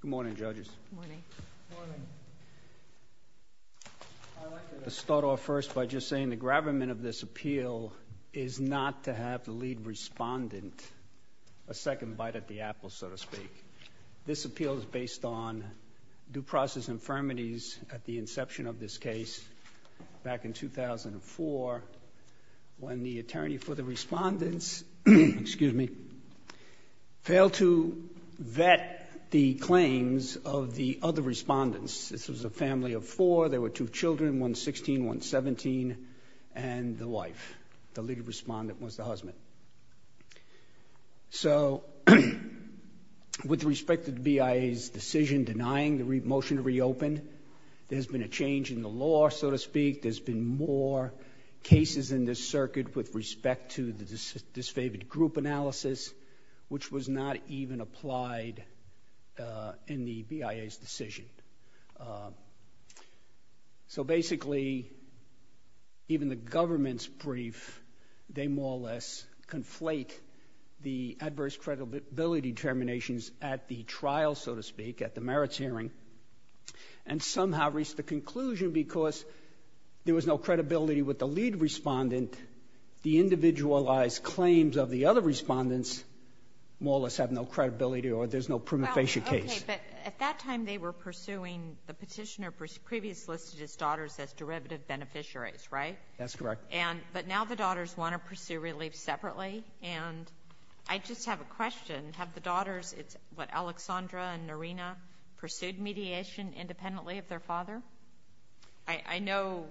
Good morning judges. I'd like to start off first by just saying the gravamen of this appeal is not to have the lead respondent a second bite at the apple, so to speak. This appeal is based on due process infirmities at the inception of this case back in 2004 when the attorney for the respondents, excuse me, failed to vet the claims of the other respondents. This was a family of four. There were two children, one 16, one 17, and the wife. So with respect to the BIA's decision denying the motion to reopen, there's been a change in the law, so to speak. There's been more cases in this circuit with respect to the disfavored group analysis, which was not even applied in the BIA's decision. So basically, even the government's brief, they more or less conflate the adverse credibility determinations at the trial, so to speak, at the merits hearing, and somehow reach the conclusion because there was no credibility with the lead respondent, the individualized claims of the other respondents more or less have no credibility or there's no prima facie case. Okay. But at that time, they were pursuing the petitioner previously listed as daughters as derivative beneficiaries, right? That's correct. But now the daughters want to pursue relief separately, and I just have a question. Have the daughters, what, Alexandra and Norena, pursued mediation independently of their father? I know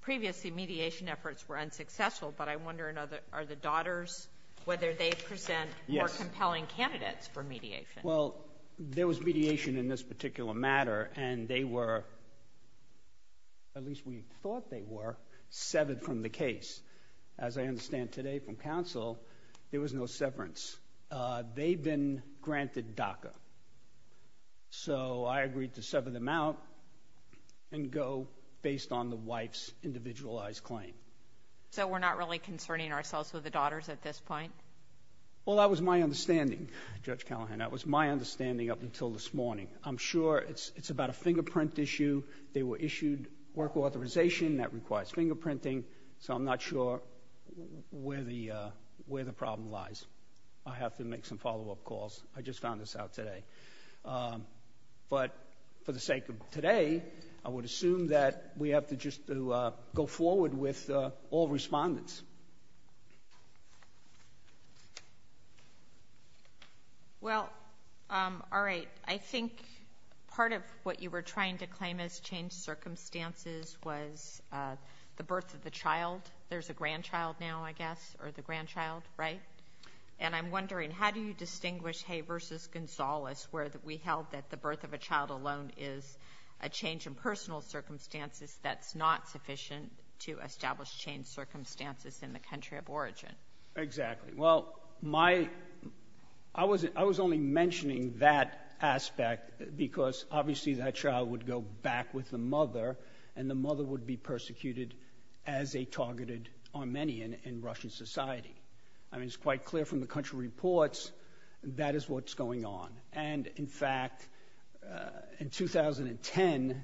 previously mediation efforts were unsuccessful, but I wonder are the daughters, whether they present more compelling candidates for mediation. Well, there was mediation in this particular matter, and they were, at least we thought they were, severed from the case. As I understand today from counsel, there was no severance. They've been granted DACA. So I agreed to sever them out and go based on the wife's individualized claim. So we're not really concerning ourselves with the daughters at this point? Well, that was my understanding, Judge Callahan. That was my understanding up until this morning. I'm sure it's about a fingerprint issue. They were issued work authorization that requires fingerprinting, so I'm not sure where the problem lies. I have to make some follow-up calls. I just found this out today. But for the sake of today, I would assume that we have to just go forward with all respondents. Well, all right. I think part of what you were trying to claim as changed circumstances was the birth of the child. There's a grandchild now, I guess, or the grandchild, right? And I'm wondering, how do you distinguish Hay versus Gonzales, where we held that the birth of a child alone is a change in personal circumstances that's not sufficient to establish changed circumstances in the country of origin? Exactly. Well, I was only mentioning that aspect because obviously that child would go back with the mother, and the mother would be persecuted as a targeted Armenian in Russian society. I mean, it's quite clear from the country reports that is what's going on. And, in fact, in 2010,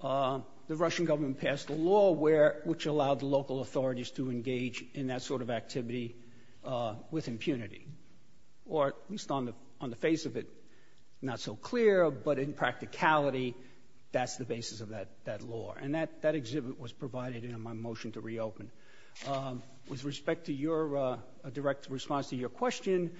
the Russian government passed a law which allowed local authorities to engage in that sort of activity with impunity, or at least on the face of it, not so clear, but in practicality, that's the basis of that law. And that exhibit was provided in my motion to reopen. With respect to your direct response to your question,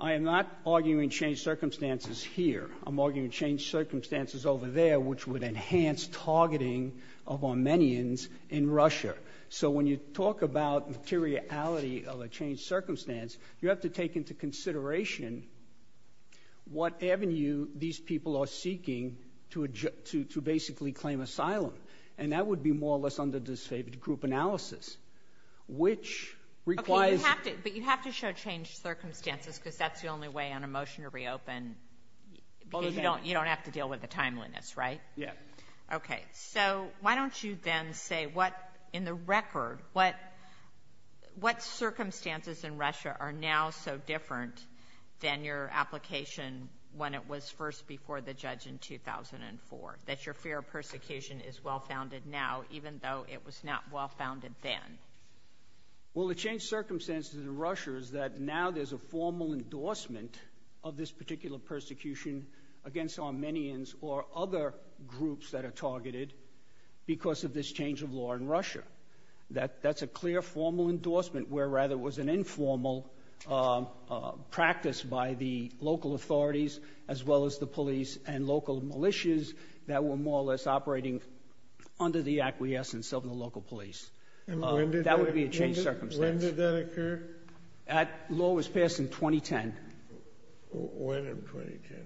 I am not arguing changed circumstances here. I'm arguing changed circumstances over there, which would enhance targeting of Armenians in Russia. So when you talk about materiality of a changed circumstance, you have to take into consideration what avenue these people are seeking to basically claim asylum. And that would be more or less under this favored group analysis, which requires ‑‑ Okay, but you have to show changed circumstances because that's the only way on a motion to reopen. Because you don't have to deal with the timeliness, right? Yeah. Okay. So why don't you then say what, in the record, what circumstances in Russia are now so different than your application when it was first before the judge in 2004, that your fear of persecution is well-founded now, even though it was not well-founded then? Well, the changed circumstances in Russia is that now there's a formal endorsement of this particular persecution against Armenians or other groups that are targeted because of this change of law in Russia. That's a clear formal endorsement, where rather it was an informal practice by the local authorities as well as the police and local militias that were more or less operating under the acquiescence of the local police. And when did that occur? That would be a changed circumstance. When did that occur? That law was passed in 2010. When in 2010?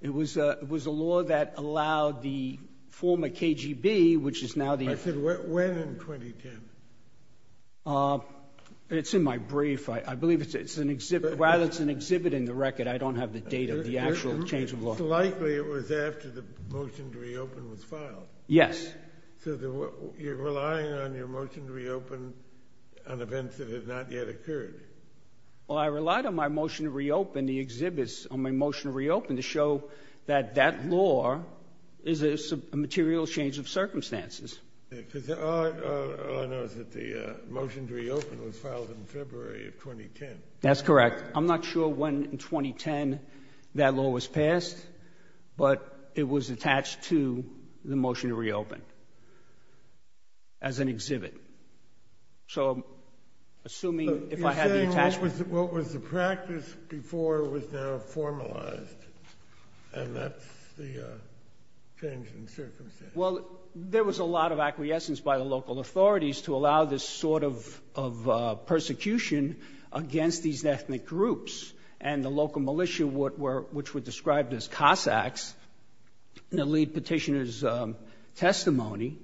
It was a law that allowed the former KGB, which is now the ‑‑ I said when in 2010. It's in my brief. I believe it's an exhibit. Rather it's an exhibit in the record. I don't have the date of the actual change of law. It's likely it was after the motion to reopen was filed. Yes. So you're relying on your motion to reopen on events that have not yet occurred. I'm hoping to show that that law is a material change of circumstances. All I know is that the motion to reopen was filed in February of 2010. That's correct. I'm not sure when in 2010 that law was passed, but it was attached to the motion to reopen as an exhibit. So assuming if I had the attachment ‑‑ You're saying what was the practice before was now formalized, and that's the change in circumstance. Well, there was a lot of acquiescence by the local authorities to allow this sort of persecution against these ethnic groups. And the local militia, which were described as Cossacks, in the lead petitioner's testimony,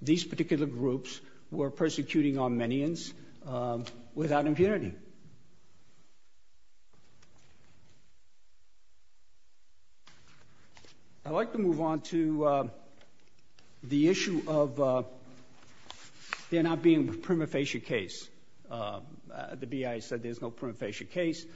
these particular groups were persecuting Armenians without impunity. I'd like to move on to the issue of there not being a prima facie case. The BIA said there's no prima facie case,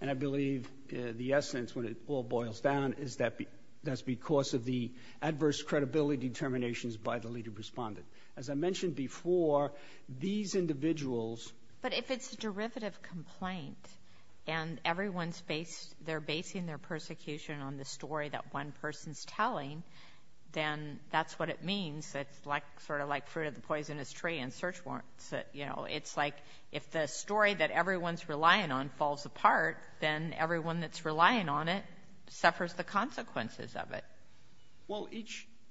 and I believe the essence, when it all boils down, is that that's because of the adverse credibility determinations by the lead respondent. As I mentioned before, these individuals ‑‑ But if it's a derivative complaint, and everyone's based, they're basing their persecution on the story that one person's telling, then that's what it means. It's sort of like fruit of the poisonous tree and search warrants. You know, it's like if the story that everyone's relying on falls apart, then everyone that's relying on it suffers the consequences of it. Well,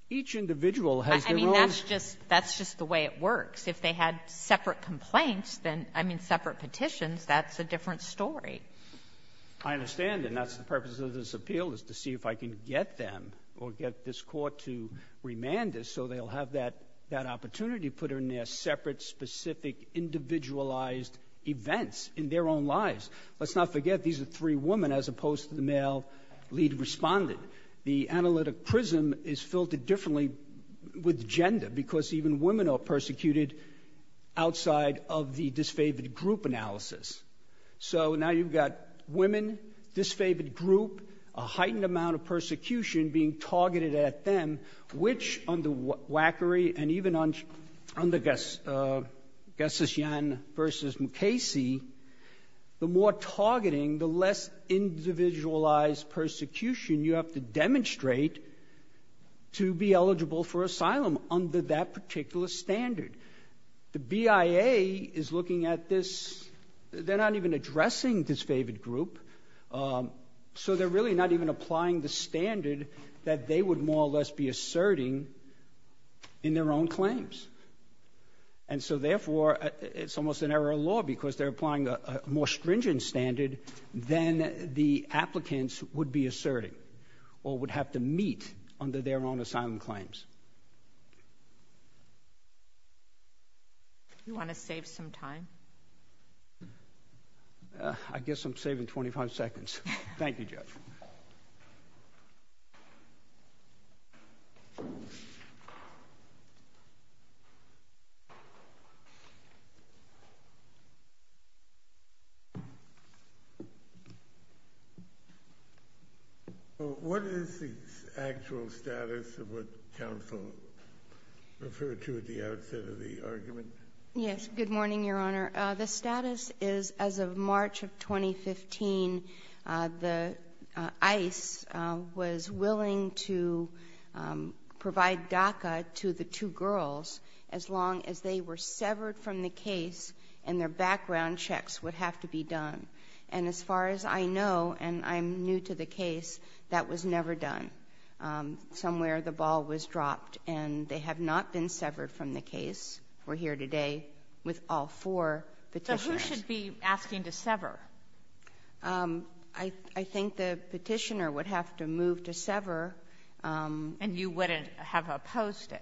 each individual has their own ‑‑ I mean, that's just the way it works. If they had separate complaints, then ‑‑ I mean, separate petitions, that's a different story. I understand. And that's the purpose of this appeal, is to see if I can get them or get this Court to remand this so they'll have that opportunity to put in there separate, specific, individualized events in their own lives. Let's not forget, these are three women as opposed to the male lead respondent. The analytic prism is filtered differently with gender because even women are persecuted outside of the disfavored group analysis. So now you've got women, disfavored group, a heightened amount of persecution being targeted at them, which under Wackery and even under Gessysian versus Mukasey, the more targeting, the less individualized persecution you have to demonstrate to be eligible for asylum under that particular standard. The BIA is looking at this. They're not even addressing disfavored group. So they're really not even applying the standard that they would more or less be asserting in their own claims. And so, therefore, it's almost an error of law because they're applying a more stringent standard than the applicants would be asserting or would have to meet under their own asylum claims. Do you want to save some time? I guess I'm saving 25 seconds. Thank you, Judge. What is the actual status of what counsel referred to at the outset of the argument? Yes, good morning, Your Honor. The status is as of March of 2015, the ICE was willing to provide DACA to the two girls as long as they were severed from the case and their background checks would have to be done. And as far as I know, and I'm new to the case, that was never done. Somewhere the ball was dropped and they have not been severed from the case. We're here today with all four Petitioners. So who should be asking to sever? I think the Petitioner would have to move to sever. And you wouldn't have opposed it?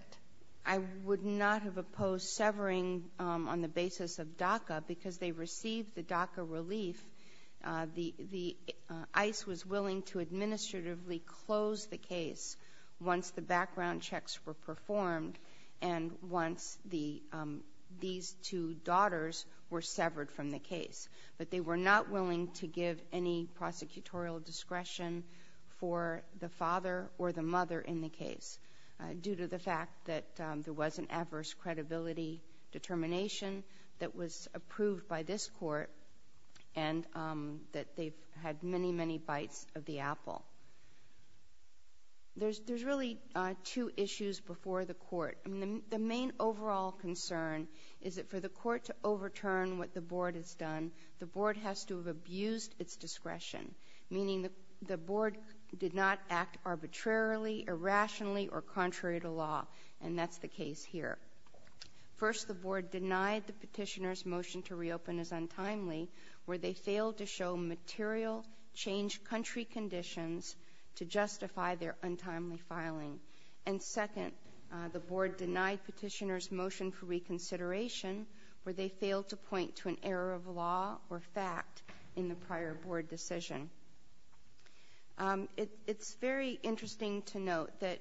I would not have opposed severing on the basis of DACA because they received the DACA relief. The ICE was willing to administratively close the case once the background checks were performed and once these two daughters were severed from the case. But they were not willing to give any prosecutorial discretion for the father or the mother in the case due to the fact that there was an adverse credibility determination that was approved by this court and that they've had many, many bites of the apple. There's really two issues before the court. The main overall concern is that for the court to overturn what the Board has done, the Board has to have abused its discretion, meaning the Board did not act arbitrarily, irrationally, or contrary to law, and that's the case here. First, the Board denied the Petitioner's motion to reopen as untimely where they failed to show material changed country conditions to justify their untimely filing. And second, the Board denied Petitioner's motion for reconsideration where they failed to point to an error of law or fact in the prior Board decision. It's very interesting to note that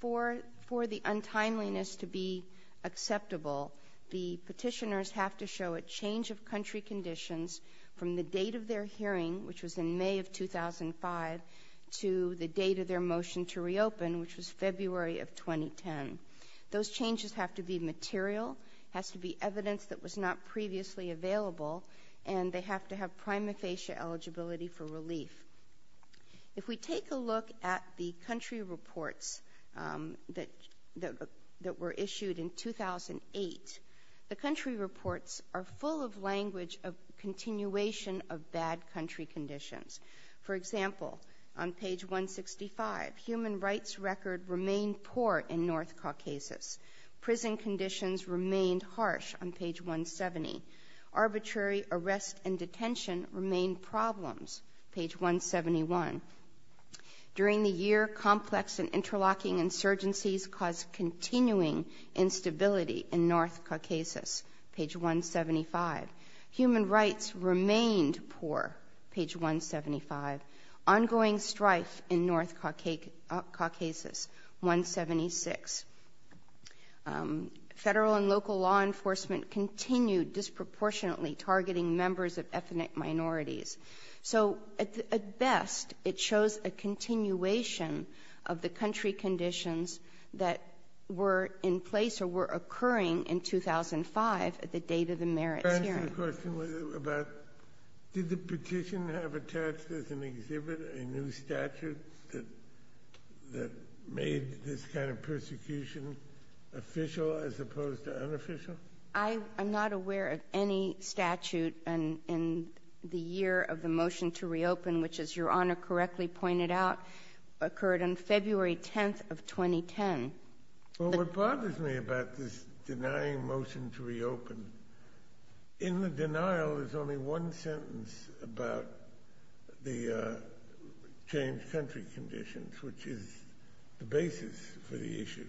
for the untimeliness to be acceptable, the Petitioners have to show a change of country conditions from the date of their hearing, which was in May of 2005, to the date of their motion to reopen, which was February of 2010. Those changes have to be material, has to be evidence that was not previously available, If we take a look at the country reports that were issued in 2008, the country reports are full of language of continuation of bad country conditions. For example, on page 165, human rights record remained poor in North Caucasus. Prison conditions remained harsh on page 170. Arbitrary arrest and detention remained problems. Page 171. During the year, complex and interlocking insurgencies caused continuing instability in North Caucasus. Page 175. Human rights remained poor. Page 175. Ongoing strife in North Caucasus. 176. Federal and local law enforcement continued disproportionately targeting members of ethnic minorities. So at best, it shows a continuation of the country conditions that were in place or were occurring in 2005 at the date of the merits hearing. Did the petition have attached as an exhibit a new statute that made this kind of persecution official as opposed to unofficial? I'm not aware of any statute in the year of the motion to reopen, which, as Your Honor correctly pointed out, occurred on February 10th of 2010. Well, what bothers me about this denying motion to reopen, in the denial is only one sentence about the changed country conditions, which is the basis for the issue.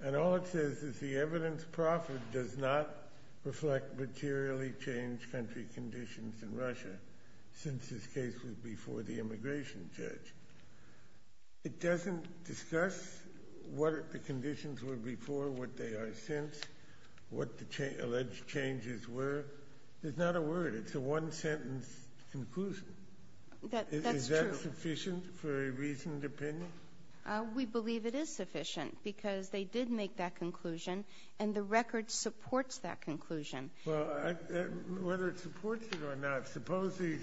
And all it says is the evidence proffered does not reflect materially changed country conditions in Russia since this case was before the immigration judge. It doesn't discuss what the conditions were before, what they are since, what the alleged changes were. There's not a word. It's a one-sentence conclusion. That's true. Is that sufficient for a reasoned opinion? We believe it is sufficient because they did make that conclusion and the record supports that conclusion. Well, whether it supports it or not, suppose the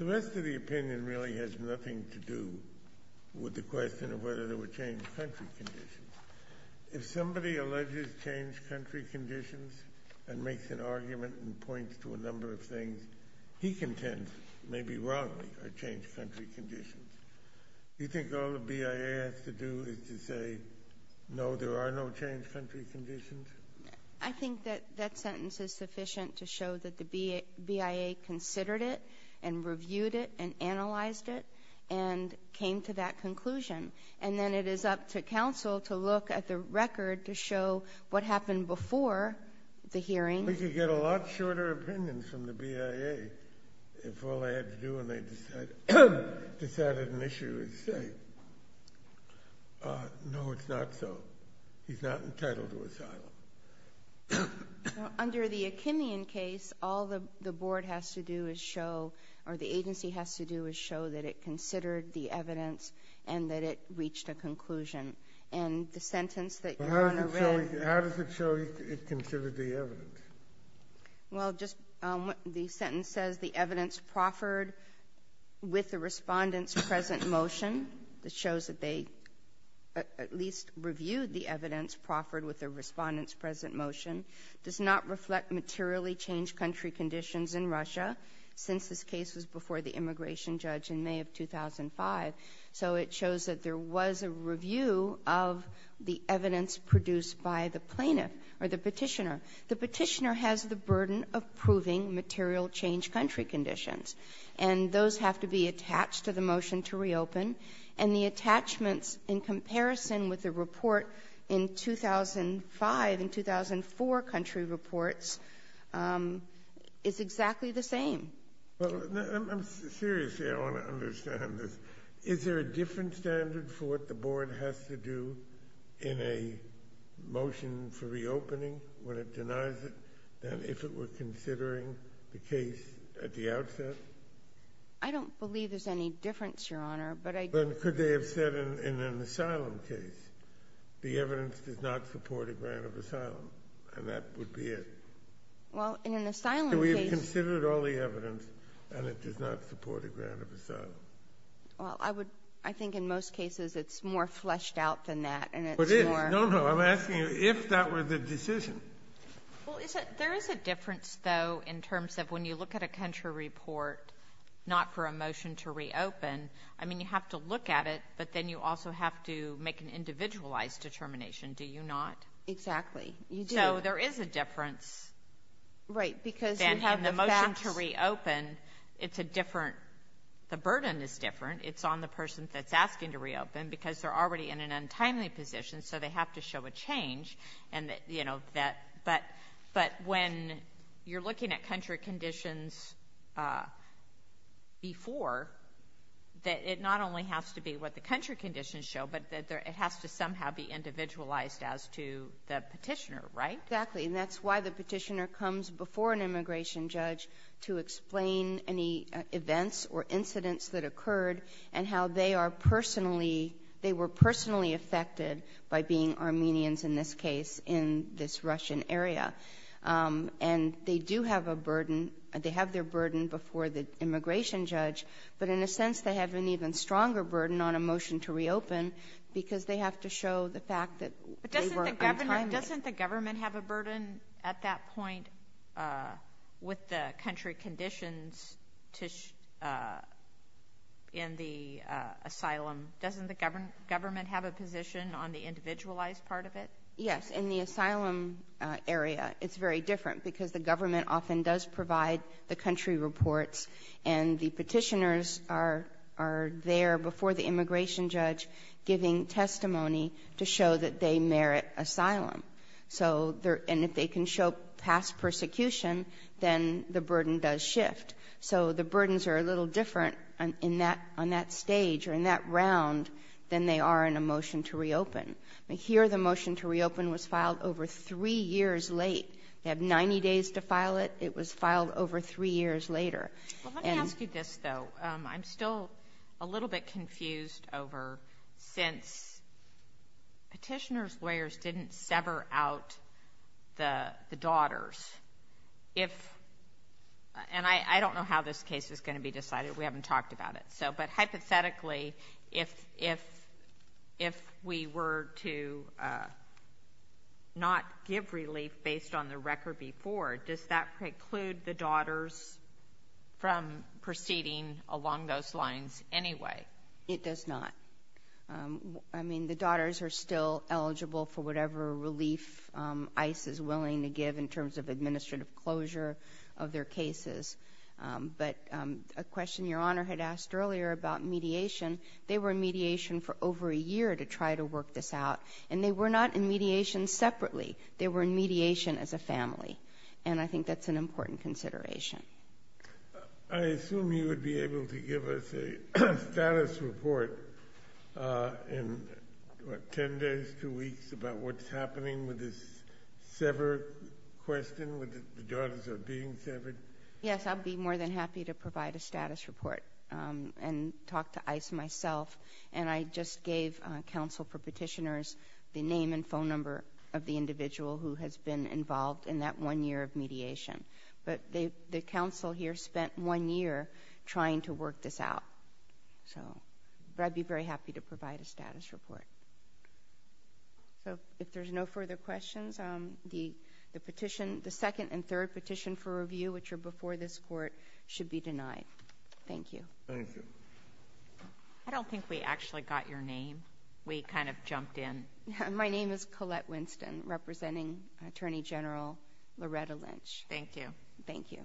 rest of the opinion really has nothing to do with the question of whether there were changed country conditions. If somebody alleges changed country conditions and makes an argument and points to a number of things, he contends maybe wrongly or changed country conditions. You think all the BIA has to do is to say, no, there are no changed country conditions? I think that that sentence is sufficient to show that the BIA considered it and reviewed it and analyzed it and came to that conclusion. And then it is up to counsel to look at the record to show what happened before the hearing. We could get a lot shorter opinions from the BIA if all they had to do when they decided an issue is say, no, it's not so. He's not entitled to asylum. Under the Akinion case, all the board has to do is show or the agency has to do is show that it considered the evidence and that it reached a conclusion. And the sentence that you want to read. How does it show it considered the evidence? Well, just the sentence says the evidence proffered with the Respondent's present motion. It shows that they at least reviewed the evidence proffered with the Respondent's present motion. It does not reflect materially changed country conditions in Russia since this case was before the immigration judge in May of 2005. So it shows that there was a review of the evidence produced by the plaintiff or the petitioner. The petitioner has the burden of proving material changed country conditions, and those have to be attached to the motion to reopen. And the attachments in comparison with the report in 2005 and 2004 country reports is exactly the same. I'm serious here. I want to understand this. Is there a different standard for what the board has to do in a motion for reopening when it denies it than if it were considering the case at the outset? I don't believe there's any difference, Your Honor, but I do. Then could they have said in an asylum case, the evidence does not support a grant of asylum, and that would be it? Well, in an asylum case we have considered all the evidence, and it does not support a grant of asylum. Well, I would – I think in most cases it's more fleshed out than that, and it's more – Well, is it – there is a difference, though, in terms of when you look at a country report not for a motion to reopen. I mean, you have to look at it, but then you also have to make an individualized determination, do you not? Exactly. You do. So there is a difference. Right. Because you have the facts. Then having the motion to reopen, it's a different – the burden is different. It's on the person that's asking to reopen because they're already in an untimely position, so they have to show a change. And, you know, that – but when you're looking at country conditions before, it not only has to be what the country conditions show, but it has to somehow be individualized as to the Petitioner, right? Exactly. And that's why the Petitioner comes before an immigration judge to explain any events occurred and how they are personally – they were personally affected by being Armenians, in this case, in this Russian area. And they do have a burden – they have their burden before the immigration judge, but in a sense, they have an even stronger burden on a motion to reopen because they have to show the fact that they were untimely. But doesn't the governor – doesn't the government have a burden at that point with the country conditions to – in the asylum? Doesn't the government have a position on the individualized part of it? Yes. In the asylum area, it's very different because the government often does provide the country reports, and the Petitioners are there before the immigration judge giving testimony to show that they merit asylum. So – and if they can show past persecution, then the burden does shift. So the burdens are a little different on that stage or in that round than they are in a motion to reopen. Here, the motion to reopen was filed over three years late. They have 90 days to file it. It was filed over three years later. Well, let me ask you this, though. So I'm still a little bit confused over – since Petitioners' lawyers didn't sever out the daughters, if – and I don't know how this case is going to be decided. We haven't talked about it. So – but hypothetically, if we were to not give relief based on the record before, does that preclude the daughters from proceeding along those lines anyway? It does not. I mean, the daughters are still eligible for whatever relief ICE is willing to give in terms of administrative closure of their cases. But a question Your Honor had asked earlier about mediation, they were in mediation for over a year to try to work this out, and they were not in mediation separately. They were in mediation as a family. And I think that's an important consideration. I assume you would be able to give us a status report in, what, ten days, two weeks, about what's happening with this severed question, with the daughters being severed? Yes, I'd be more than happy to provide a status report and talk to ICE myself. And I just gave counsel for Petitioners the name and phone number of the individual who spent one year of mediation. But the counsel here spent one year trying to work this out. So – but I'd be very happy to provide a status report. So if there's no further questions, the petition – the second and third petition for review, which are before this Court, should be denied. Thank you. Thank you. I don't think we actually got your name. We kind of jumped in. My name is Colette Winston, representing Attorney General Loretta Lynch. Thank you. Thank you.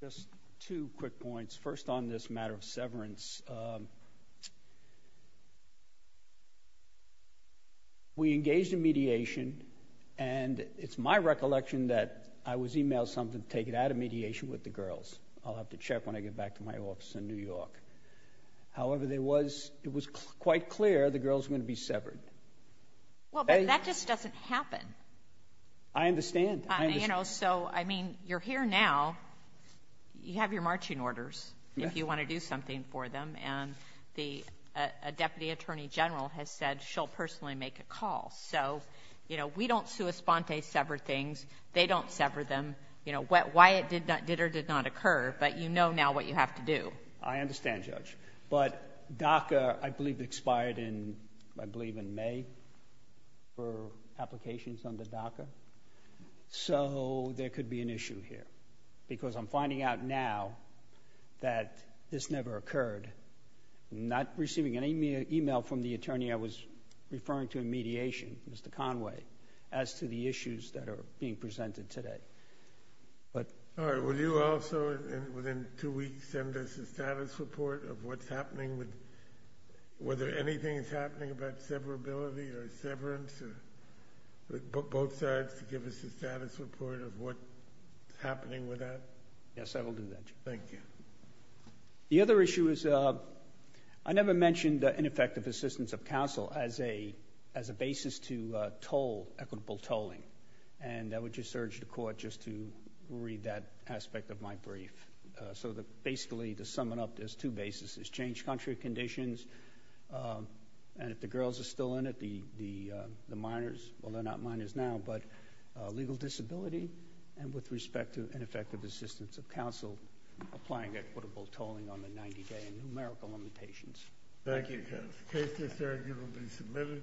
Just two quick points. First on this matter of severance, we engaged in mediation, and it's my recollection that I was emailed something to take it out of mediation with the girls. I'll have to check when I get back to my office in New York. However, there was – it was quite clear the girls were going to be severed. Well, but that just doesn't happen. I understand. I understand. You know, so, I mean, you're here now. You have your marching orders if you want to do something for them. And the – a Deputy Attorney General has said she'll personally make a call. So, you know, we don't sua sponte sever things. They don't sever them. You know, why it did or did not occur, but you know now what you have to do. I understand, Judge. But DACA, I believe, expired in, I believe, in May for applications under DACA. So there could be an issue here because I'm finding out now that this never occurred. Not receiving any email from the attorney I was referring to in mediation, Mr. Conway, as to the issues that are being presented today. All right. Will you also, within two weeks, send us a status report of what's happening with – whether anything is happening about severability or severance or both sides to give us a status report of what's happening with that? Yes, I will do that, Judge. Thank you. The other issue is I never mentioned ineffective assistance of counsel as a basis to toll, equitable tolling. And I would just urge the court just to read that aspect of my brief. So basically, to sum it up, there's two bases. There's changed country conditions. And if the girls are still in it, the minors – well, they're not minors now, but legal disability and with respect to ineffective assistance of counsel applying equitable tolling on the 90-day and numerical limitations. Thank you, counsel. The case is arguably submitted.